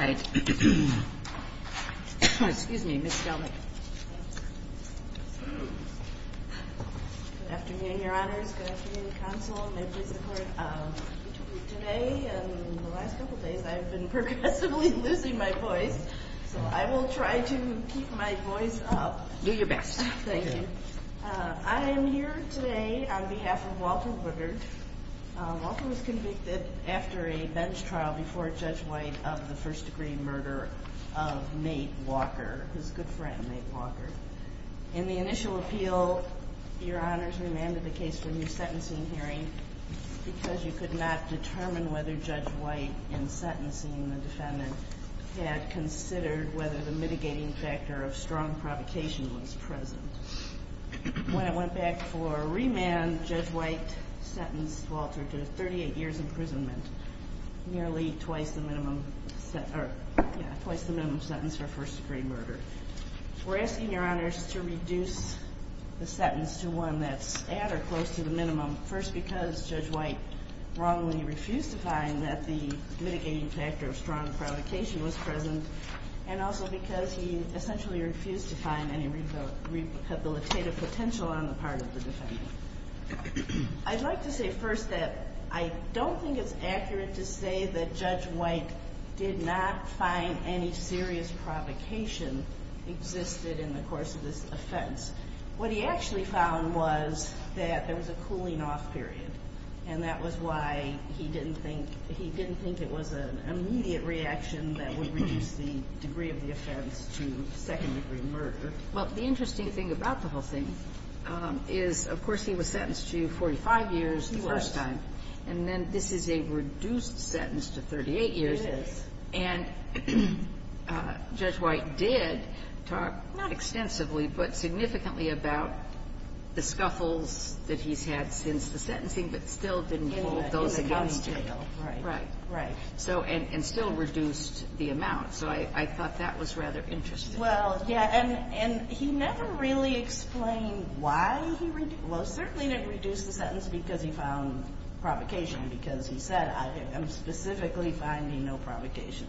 All right. Excuse me, Ms. Woodard. I am here today on behalf of Walter Woodard. Walter was convicted after a bench trial before Judge White of the first degree murder of Nate Walker, his good friend, Nate Walker. He was sentenced to 38 years in prison, nearly twice the minimum sentence for first degree murder. We're asking, Your Honors, to reduce the sentence to one that's at or close to the minimum, first, because Judge White wrongly refused to find that the mitigating factor of strong provocation was present, and also because he essentially refused to find any rehabilitative potential on the part of the defendant. I'd like to say first that I don't think it's accurate to say that Judge White did not find any serious provocation existed in the course of this offense. What he actually found was that there was a cooling off period, and that was why he didn't think it was an immediate reaction that would reduce the degree of the offense to second degree murder. Well, the interesting thing about the whole thing is, of course, he was sentenced to 45 years the first time, and then this is a reduced sentence to 38 years. It is. And Judge White did talk, not extensively, but significantly about the scuffles that he's had since the sentencing, but still didn't hold those against him. In the gummy tail. Right. Right. Right. So, and still reduced the amount. So I thought that was rather interesting. Well, yeah, and he never really explained why he reduced, well, certainly didn't reduce the sentence because he found provocation, because he said, I am specifically finding no provocation.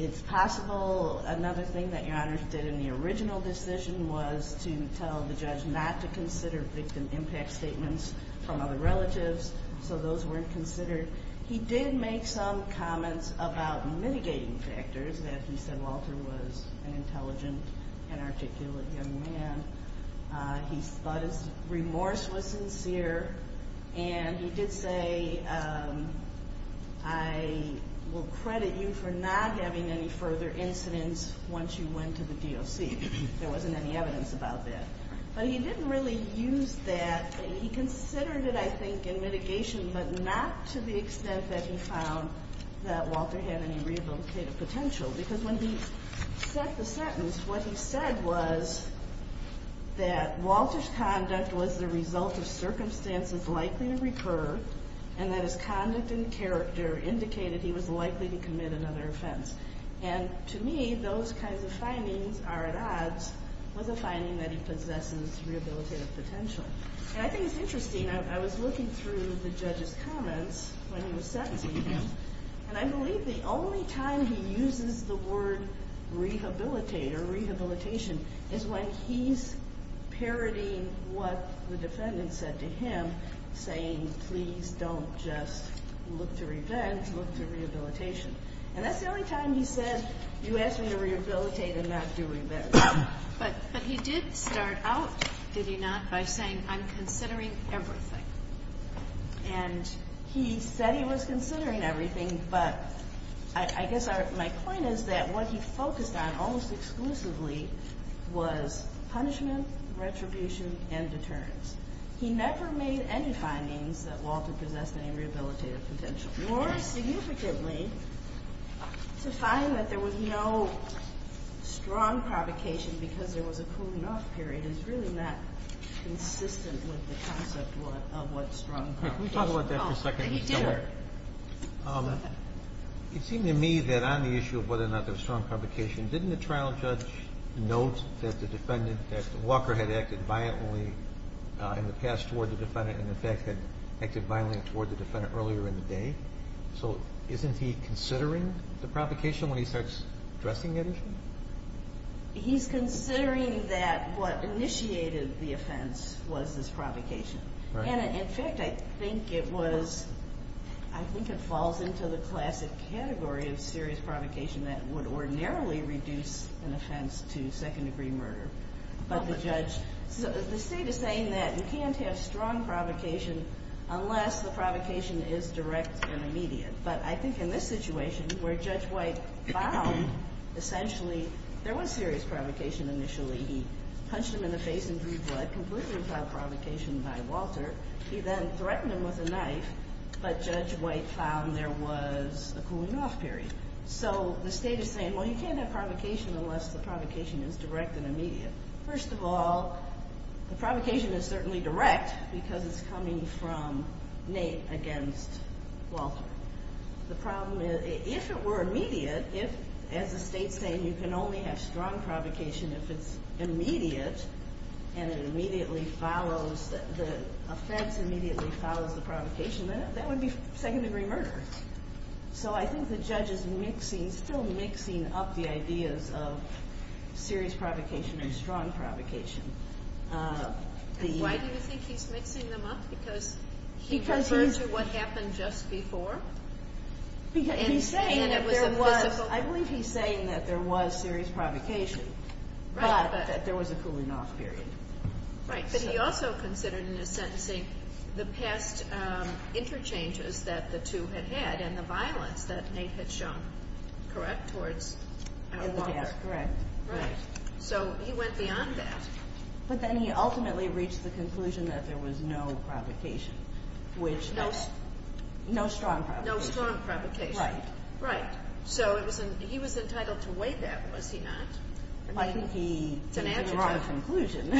It's possible, another thing that your Honor did in the original decision was to tell the judge not to consider victim impact statements from other relatives, so those weren't considered. He did make some comments about mitigating factors, that he said Walter was an intelligent and articulate young man, he thought his remorse was sincere, and he did say, I will credit you for not having any further incidents once you went to the DOC. There wasn't any evidence about that. But he didn't really use that. He considered it, I think, in mitigation, but not to the extent that he found that Walter had any rehabilitative potential, because when he set the sentence, what he said was that Walter's conduct was the result of circumstances likely to recur, and that his conduct and character indicated he was likely to commit another offense. And to me, those kinds of findings are at odds with the finding that he possesses rehabilitative potential. And I think it's interesting, I was looking through the judge's comments when he was sentencing him, and I believe the only time he uses the word rehabilitate or rehabilitation is when he's parodying what the defendant said to him, saying, please don't just look to revenge, look to rehabilitation. And that's the only time he said, you asked me to rehabilitate and not do revenge. But he did start out, did he not, by saying, I'm considering everything. And he said he was considering everything, but I guess my point is that what he focused on almost exclusively was punishment, retribution, and deterrence. He never made any findings that Walter possessed any rehabilitative potential. More significantly, to find that there was no strong provocation because there was a cool-enough period that is really not consistent with the concept of what strong provocation is. Can we talk about that for a second? Sure. It seemed to me that on the issue of whether or not there was strong provocation, didn't the trial judge note that the defendant, that Walker had acted violently in the past toward the defendant and in fact had acted violently toward the defendant earlier in the day? So isn't he considering the provocation when he starts addressing that issue? He's considering that what initiated the offense was this provocation. And in fact, I think it was, I think it falls into the classic category of serious provocation that would ordinarily reduce an offense to second-degree murder. But the judge, the state is saying that you can't have strong provocation unless the provocation is direct and immediate. But I think in this situation where Judge White found essentially there was serious provocation initially. He punched him in the face in blue blood, completely without provocation by Walter. He then threatened him with a knife, but Judge White found there was a cool-enough period. So the state is saying, well, you can't have provocation unless the provocation is direct and immediate. First of all, the provocation is certainly direct because it's coming from Nate against Walter. The problem is, if it were immediate, if, as the state's saying, you can only have strong provocation if it's immediate and it immediately follows, the offense immediately follows the provocation, then that would be second-degree murder. So I think the judge is mixing, still mixing up the ideas of serious provocation and strong provocation. Why do you think he's mixing them up? Because he referred to what happened just before? I believe he's saying that there was serious provocation, but that there was a cool-enough period. Right, but he also considered in his sentencing the past interchanges that the two had had and the violence that Nate had shown, correct, towards Walter? Yes, correct. Right, so he went beyond that. But then he ultimately reached the conclusion that there was no provocation. No strong provocation. No strong provocation. Right. Right, so he was entitled to weigh that, was he not? I think he came to the wrong conclusion.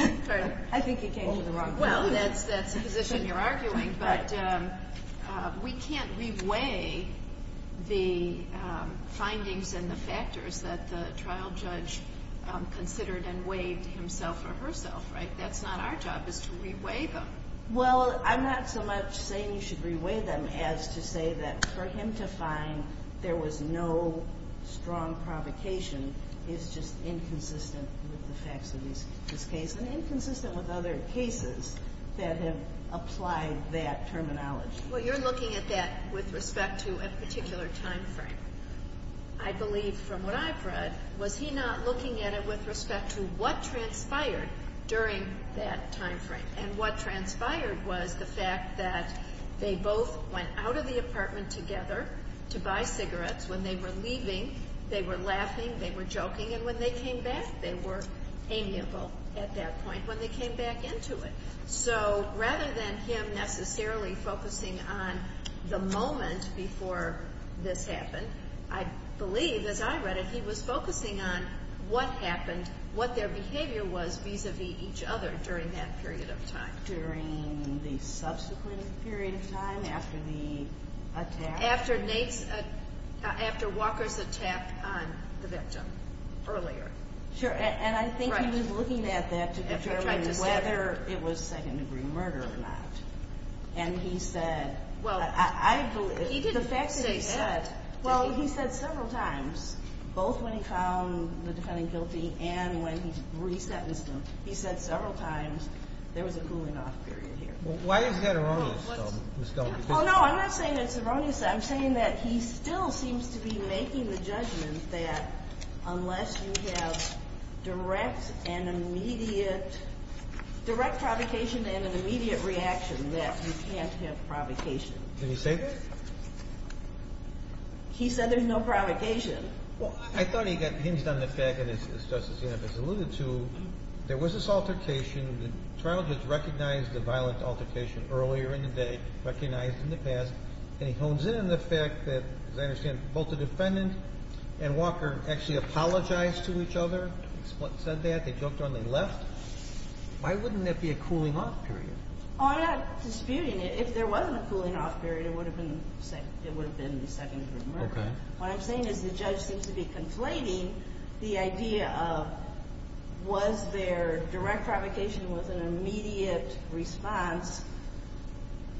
I think he came to the wrong conclusion. Well, that's the position you're arguing, but we can't re-weigh the findings and the factors that the trial judge considered and weighed himself or herself, right? That's not our job is to re-weigh them. Well, I'm not so much saying you should re-weigh them as to say that for him to find there was no strong provocation is just inconsistent with the facts of this case and inconsistent with other cases that have applied that terminology. Well, you're looking at that with respect to a particular time frame. I believe from what I've read, was he not looking at it with respect to what transpired during that time frame? And what transpired was the fact that they both went out of the apartment together to buy cigarettes. When they were leaving, they were laughing, they were joking, and when they came back, they were amiable at that point when they came back into it. So rather than him necessarily focusing on the moment before this happened, I believe, as I read it, he was focusing on what happened, what their behavior was vis-a-vis each other during that period of time. During the subsequent period of time after the attack? After Walker's attack on the victim earlier. Sure, and I think he was looking at that to determine whether it was second-degree murder or not. And he said, I believe, the fact that he said, well, he said several times, both when he found the defendant guilty and when he re-sentenced him, he said several times there was a cooling-off period here. Why is that erroneous? Oh, no, I'm not saying it's erroneous. I'm saying that he still seems to be making the judgment that unless you have direct and immediate – direct provocation and an immediate reaction, that you can't have provocation. Did he say that? He said there's no provocation. Well, I thought he got hinged on the fact, as Justice Genevieve has alluded to, there was this altercation. The trial just recognized the violent altercation earlier in the day, recognized in the past, and he hones in on the fact that, as I understand it, both the defendant and Walker actually apologized to each other. They split and said that. They joked around. They left. Why wouldn't there be a cooling-off period? Oh, I'm not disputing it. If there wasn't a cooling-off period, it would have been second-degree murder. What I'm saying is the judge seems to be conflating the idea of was there direct provocation with an immediate response,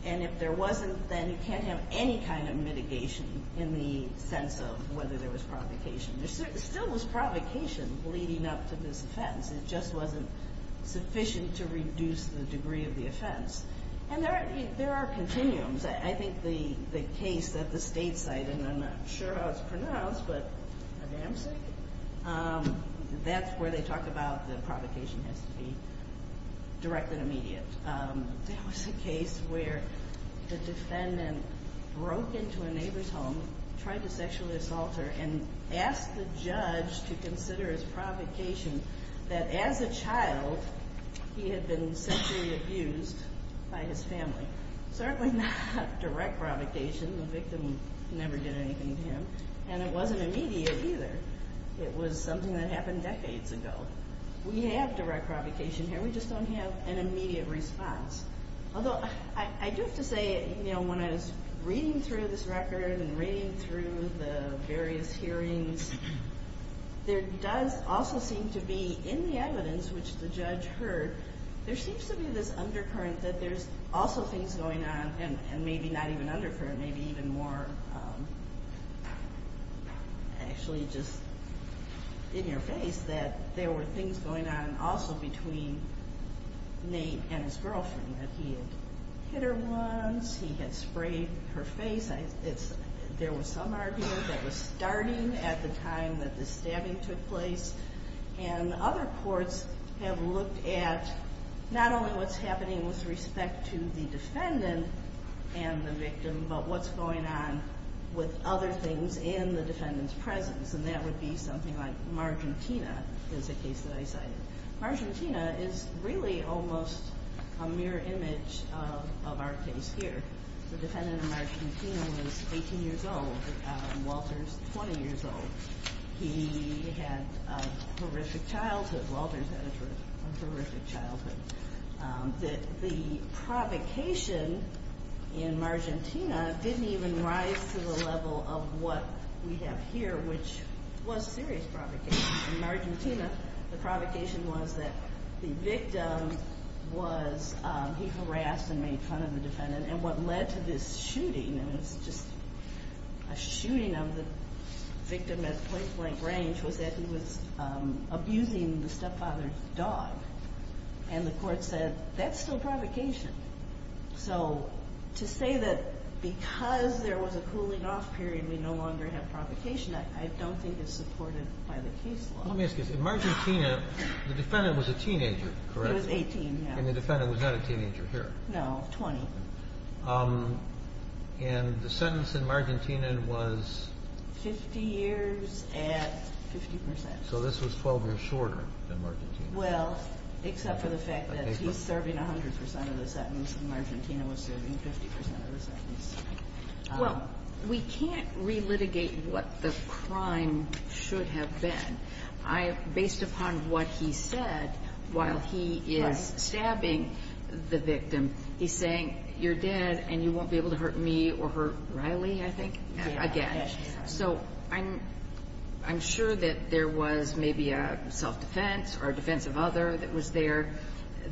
and if there wasn't, then you can't have any kind of mitigation in the sense of whether there was provocation. There still was provocation leading up to this offense. It just wasn't sufficient to reduce the degree of the offense. And there are continuums. I think the case at the state site, and I'm not sure how it's pronounced, but a damsel? That's where they talk about the provocation has to be direct and immediate. There was a case where the defendant broke into a neighbor's home, tried to sexually assault her, and asked the judge to consider as provocation that, as a child, he had been sexually abused by his family. The victim never did anything to him. And it wasn't immediate either. It was something that happened decades ago. We have direct provocation here, we just don't have an immediate response. Although I do have to say, when I was reading through this record and reading through the various hearings, there does also seem to be, in the evidence which the judge heard, there seems to be this undercurrent that there's also things going on, and maybe not even undercurrent, maybe even more actually just in your face, that there were things going on also between Nate and his girlfriend, that he had hit her once, he had sprayed her face. There was some argument that was starting at the time that the stabbing took place. And other courts have looked at not only what's happening with respect to the defendant and the victim, but what's going on with other things in the defendant's presence. And that would be something like Margentina is a case that I cited. Margentina is really almost a mirror image of our case here. The defendant in Margentina was 18 years old. Walter's 20 years old. He had a horrific childhood. Walter's had a horrific childhood. The provocation in Margentina didn't even rise to the level of what we have here, which was a serious provocation. In Margentina, the provocation was that the victim was, he harassed and made fun of the defendant. And what led to this shooting, and it was just a shooting of the victim at point-blank range, was that he was abusing the stepfather's dog. And the court said, that's still provocation. So to say that because there was a cooling-off period, we no longer have provocation, I don't think it's supported by the case law. Let me ask you this. In Margentina, the defendant was a teenager, correct? He was 18, yes. And the defendant was not a teenager here. No, 20. And the sentence in Margentina was? 50 years at 50%. So this was 12 years shorter than Margentina. Well, except for the fact that he's serving 100% of the sentence and Margentina was serving 50% of the sentence. Well, we can't relitigate what the crime should have been. Based upon what he said, while he is stabbing the victim, he's saying, you're dead and you won't be able to hurt me or hurt Riley, I think, again. So I'm sure that there was maybe a self-defense or a defense of other that was there.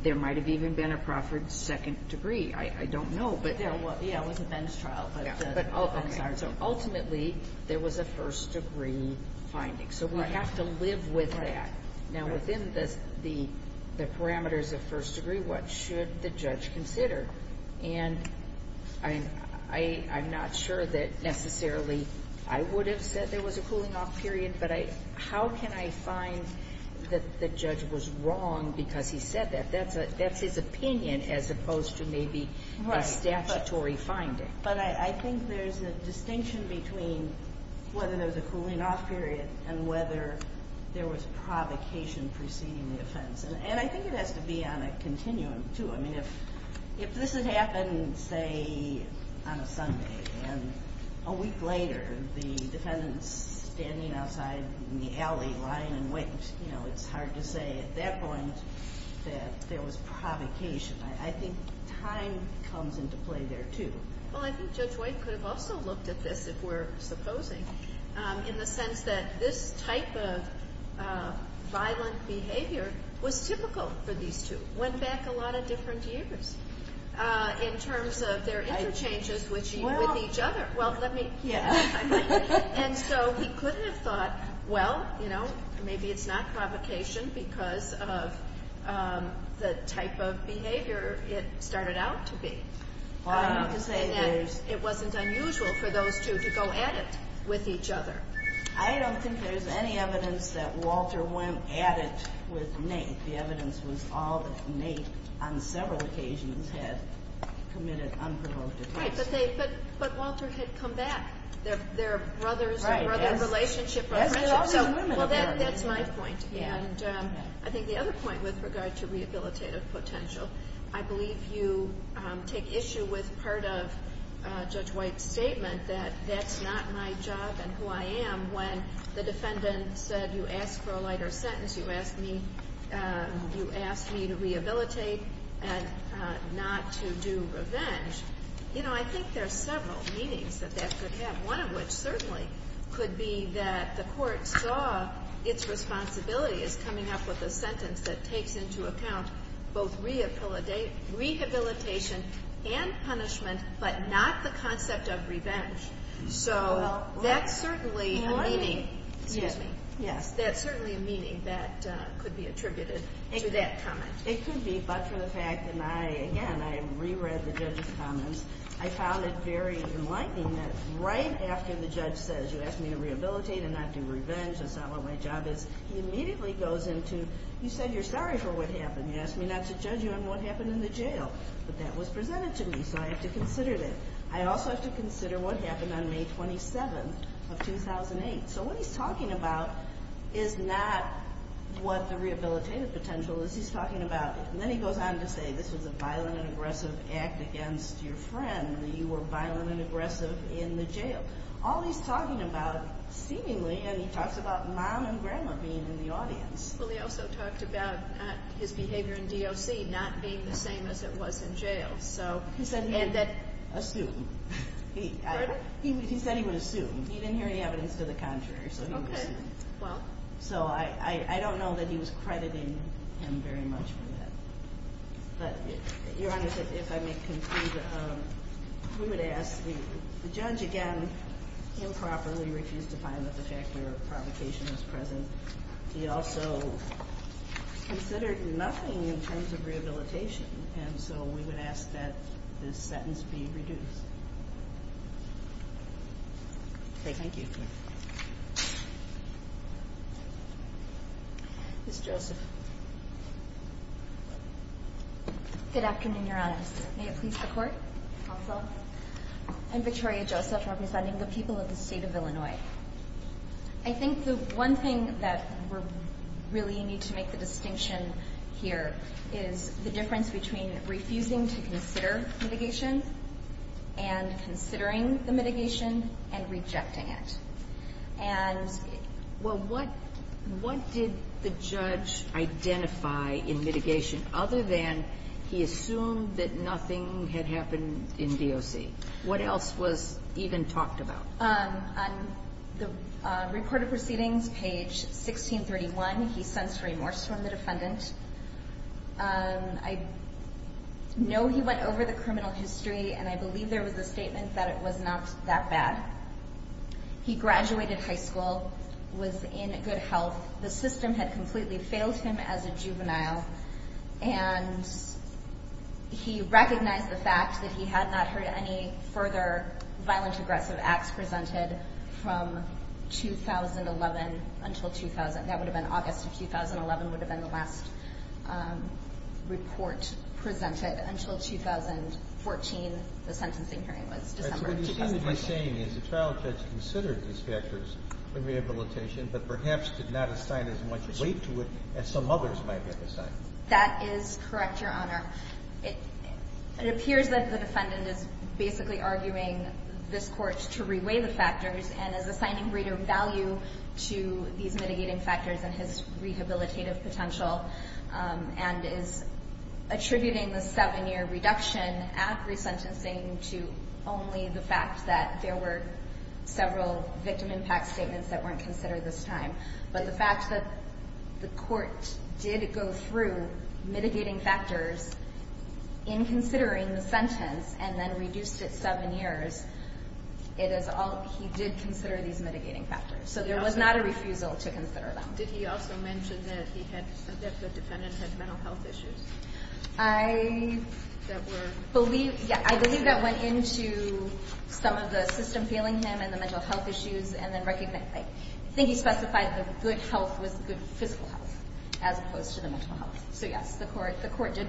There might have even been a proffered second degree. I don't know. Yeah, it was a bench trial. So ultimately, there was a first-degree finding. So we have to live with that. Now, within the parameters of first degree, what should the judge consider? And I'm not sure that necessarily I would have said there was a cooling-off period, but how can I find that the judge was wrong because he said that? That's his opinion as opposed to maybe a statutory finding. But I think there's a distinction between whether there was a cooling-off period and whether there was provocation preceding the offense. And I think it has to be on a continuum, too. I mean, if this had happened, say, on a Sunday, and a week later the defendant's standing outside in the alley lying in wait, you know, it's hard to say at that point that there was provocation. I think time comes into play there, too. Well, I think Judge White could have also looked at this, if we're supposing, in the sense that this type of violent behavior was typical for these two, went back a lot of different years in terms of their interchanges with each other. Well, let me... And so he could have thought, well, you know, maybe it's not provocation because of the type of behavior it started out to be. It wasn't unusual for those two to go at it with each other. I don't think there's any evidence that Walter went at it with Nate. I think the evidence was all that Nate, on several occasions, had committed unprovoked offense. Right, but Walter had come back. They're brothers, they're in a relationship. Well, that's my point. And I think the other point with regard to rehabilitative potential, I believe you take issue with part of Judge White's statement that that's not my job and who I am when the defendant said, well, you asked for a lighter sentence, you asked me to rehabilitate and not to do revenge. You know, I think there are several meanings that that could have, one of which certainly could be that the court saw its responsibility as coming up with a sentence that takes into account both rehabilitation and punishment but not the concept of revenge. So that's certainly a meaning that could be attributed to that comment. It could be, but for the fact that I, again, I reread the judge's comments, I found it very enlightening that right after the judge says, you asked me to rehabilitate and not do revenge, that's not what my job is, he immediately goes into, you said you're sorry for what happened, you asked me not to judge you on what happened in the jail, but that was presented to me, so I have to consider that. I also have to consider what happened on May 27th of 2008. So what he's talking about is not what the rehabilitative potential is, he's talking about, and then he goes on to say, this was a violent and aggressive act against your friend, that you were violent and aggressive in the jail. All he's talking about seemingly, and he talks about mom and grandma being in the audience. Well, he also talked about his behavior in DOC not being the same as it was in jail. So he said he would assume. He said he would assume. He didn't hear any evidence to the contrary, so he would assume. So I don't know that he was crediting him very much for that. But Your Honor, if I may conclude, we would ask, the judge, again, improperly refused to find that the factor of provocation was present. He also considered nothing in terms of rehabilitation, and so we would ask that this sentence be reduced. Thank you. Ms. Joseph. Good afternoon, Your Honors. May it please the Court. Also. I'm Victoria Joseph, representing the people of the state of Illinois. I think the one thing that we really need to make the distinction here is the difference between refusing to consider mitigation and considering the mitigation and rejecting it. Well, what did the judge identify in mitigation other than he assumed that nothing had happened in DOC? What else was even talked about? On the report of proceedings, page 1631, he sensed remorse from the defendant. I know he went over the criminal history, and I believe there was a statement that it was not that bad. He graduated high school, was in good health. The system had completely failed him as a juvenile, and he recognized the fact that he had not heard any further violent, aggressive acts presented from 2011 until 2000. That would have been August of 2011 would have been the last report presented. Until 2014, the sentencing hearing was December of 2011. So what you seem to be saying is the trial judge considered these factors of rehabilitation but perhaps did not assign as much weight to it as some others might have assigned. That is correct, Your Honor. It appears that the defendant is basically arguing this court to reweigh the factors and is assigning greater value to these mitigating factors than his rehabilitative potential and is attributing the 7-year reduction at resentencing to only the fact that there were several victim impact statements that weren't considered this time. But the fact that the court did go through mitigating factors in considering the sentence and then reduced it 7 years, he did consider these mitigating factors. So there was not a refusal to consider them. Did he also mention that the defendant had mental health issues? I believe that went into some of the system failing him and the mental health issues and I think he specified that good health was good physical health as opposed to the mental health. So yes, the court did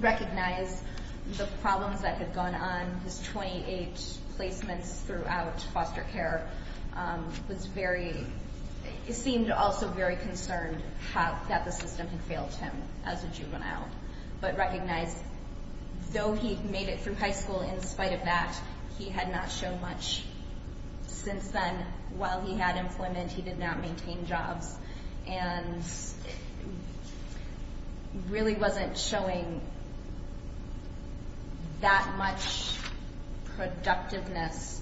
recognize the problems that had gone on. His 28 placements throughout foster care seemed also very concerned that the system had failed him as a juvenile. But recognized, though he made it through high school in spite of that, he had not shown much since then. While he had employment, he did not maintain jobs and really wasn't showing that much productiveness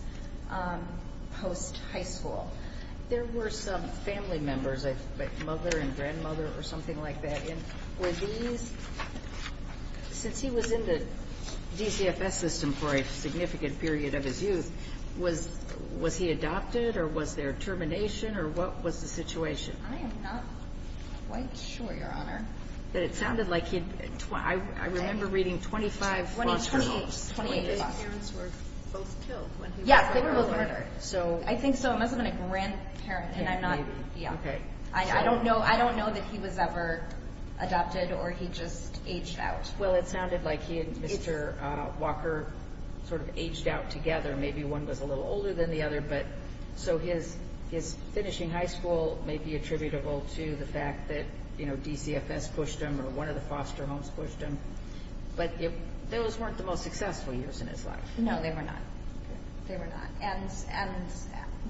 post-high school. There were some family members, like mother and grandmother or something like that. Since he was in the DCFS system for a significant period of his youth, was he adopted or was there termination or what was the situation? I am not quite sure, Your Honor. But it sounded like he, I remember reading 25 foster homes. His parents were both killed. Yes, they were both murdered. I think so. It must have been a grandparent. I don't know that he was ever adopted or he just aged out. Well, it sounded like he and Mr. Walker sort of aged out together. Maybe one was a little older than the other. So his finishing high school may be attributable to the fact that DCFS pushed him or one of the foster homes pushed him. But those weren't the most successful years in his life. No, they were not. They were not. And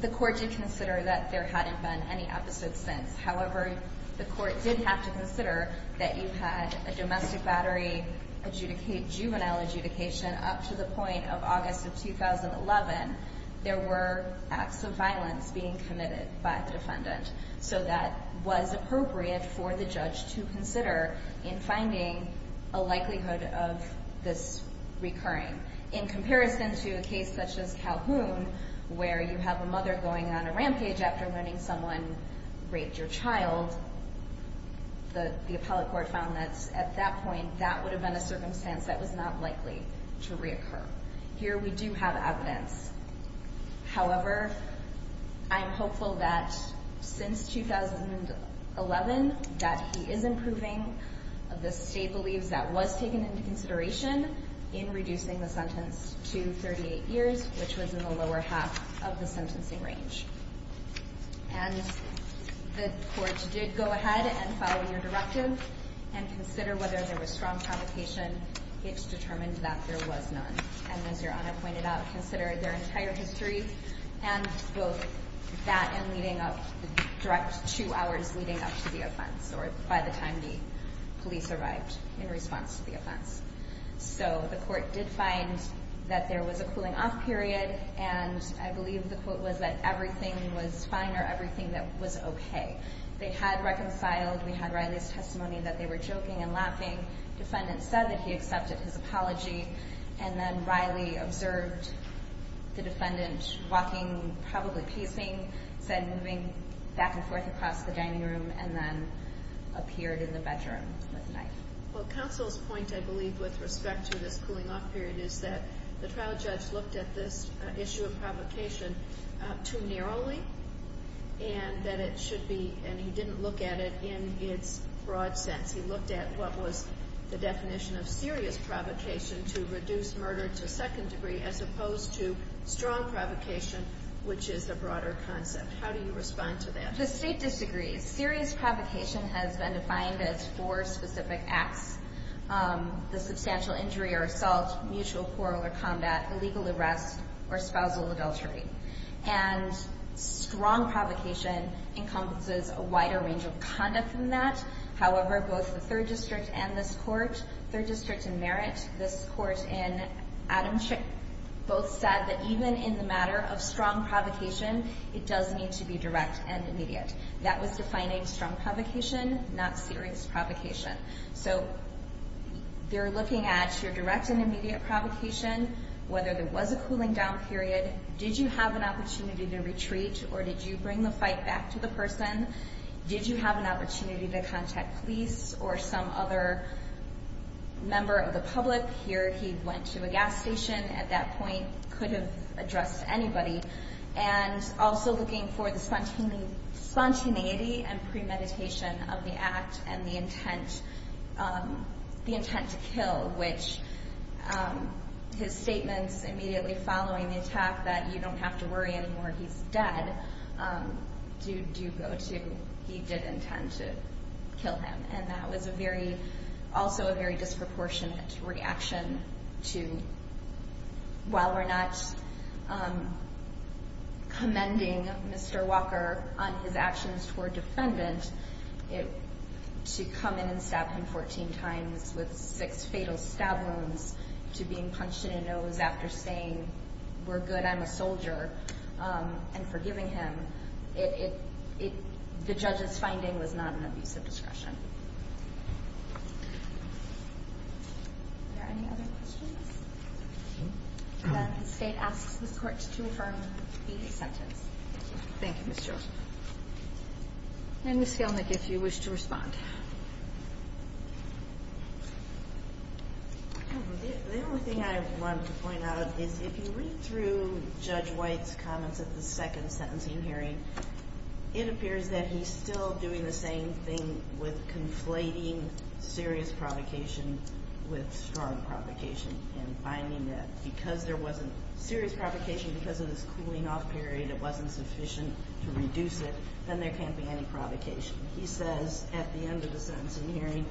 the court did consider that there hadn't been any episodes since. However, the court did have to consider that you had a domestic battery, juvenile adjudication up to the point of August of 2011. There were acts of violence being committed by the defendant. So that was appropriate for the judge to consider in finding a likelihood of this recurring. In comparison to a case such as Calhoun where you have a mother going on a rampage after learning someone raped your child, the appellate court found that at that point that would have been a circumstance that was not likely to reoccur. Here we do have evidence. However, I'm hopeful that since 2011 that he is improving. The state believes that was taken into consideration in reducing the sentence to 38 years, which was in the lower half of the sentencing range. And the court did go ahead and follow your directive and consider whether there was strong provocation. It's determined that there was none. And as your Honor pointed out, considered their entire history and both that and leading up, the direct two hours leading up to the offense or by the time the police arrived in response to the offense. So the court did find that there was a cooling off period. And I believe the quote was that everything was fine or everything that was OK. They had reconciled. The defendant said that he accepted his apology. And then Riley observed the defendant walking, probably pacing, said moving back and forth across the dining room, and then appeared in the bedroom with a knife. Well, counsel's point, I believe, with respect to this cooling off period is that the trial judge looked at this issue of provocation too narrowly and that it should be, and he didn't look at it in its broad sense. He looked at what was the definition of serious provocation to reduce murder to a second degree as opposed to strong provocation, which is a broader concept. How do you respond to that? The State disagrees. Serious provocation has been defined as four specific acts, the substantial injury or assault, mutual quarrel or combat, illegal arrest, or spousal adultery. And strong provocation encompasses a wider range of conduct than that. However, both the Third District and this Court, Third District in Merritt, this Court in Adamczyk, both said that even in the matter of strong provocation, it does need to be direct and immediate. That was defining strong provocation, not serious provocation. So they're looking at your direct and immediate provocation, whether there was a cooling down period, did you have an opportunity to retreat or did you bring the fight back to the person? Did you have an opportunity to contact police or some other member of the public? Here he went to a gas station. At that point, could have addressed anybody. And also looking for the spontaneity and premeditation of the act and the intent to kill, which his statements immediately following the attack that you don't have to worry anymore, he's dead, do go to he did intend to kill him. And that was also a very disproportionate reaction to, while we're not commending Mr. Walker on his actions toward defendant, to come in and stab him 14 times with six fatal stab wounds, to being punched in the nose after saying, we're good, I'm a soldier, and forgiving him. The judge's finding was not an abuse of discretion. Are there any other questions? Then the State asks this Court to affirm the sentence. Thank you, Ms. George. And Ms. Gelnick, if you wish to respond. The only thing I want to point out is if you read through Judge White's comments at the second sentencing hearing, it appears that he's still doing the same thing with conflating serious provocation with strong provocation and finding that because there wasn't serious provocation because of this cooling off period, it wasn't sufficient to reduce it, then there can't be any provocation. He says at the end of the sentencing hearing,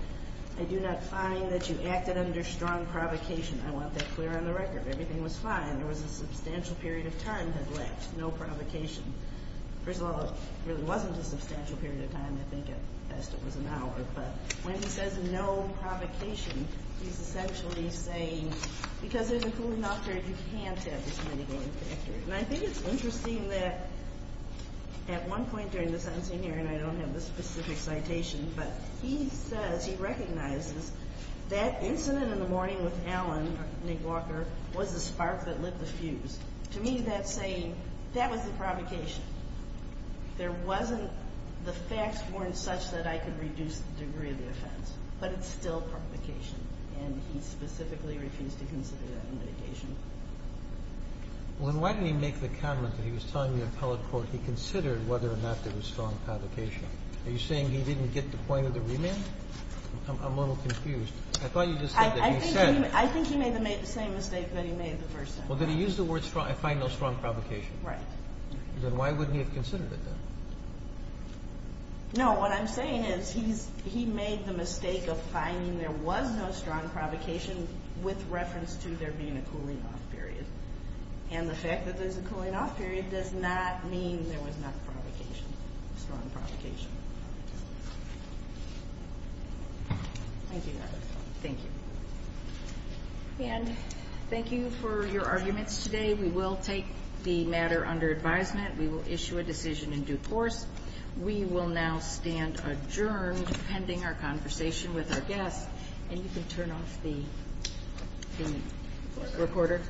I do not find that you acted under strong provocation. I want that clear on the record. Everything was fine. There was a substantial period of time had left, no provocation. First of all, it really wasn't a substantial period of time. I think at best it was an hour. But when he says no provocation, he's essentially saying because there's a cooling off period, you can't have this money going backwards. And I think it's interesting that at one point during the sentencing hearing, I don't have the specific citation, but he says he recognizes that incident in the morning with Alan, Nick Walker, was the spark that lit the fuse. To me, that's saying that was the provocation. There wasn't the facts weren't such that I could reduce the degree of the offense, but it's still provocation. And he specifically refused to consider that in litigation. Well, then why did he make the comment that he was telling the appellate court he considered whether or not there was strong provocation? Are you saying he didn't get the point of the remand? I'm a little confused. I thought you just said that he said. I think he made the same mistake that he made the first time. Well, did he use the words I find no strong provocation? Right. Then why wouldn't he have considered it then? No. What I'm saying is he made the mistake of finding there was no strong provocation with reference to there being a cooling off period. And the fact that there's a cooling off period does not mean there was not provocation, strong provocation. Thank you. Thank you. And thank you for your arguments today. We will take the matter under advisement. We will issue a decision in due course. We will now stand adjourned pending our conversation with our guests. And you can turn off the recorder.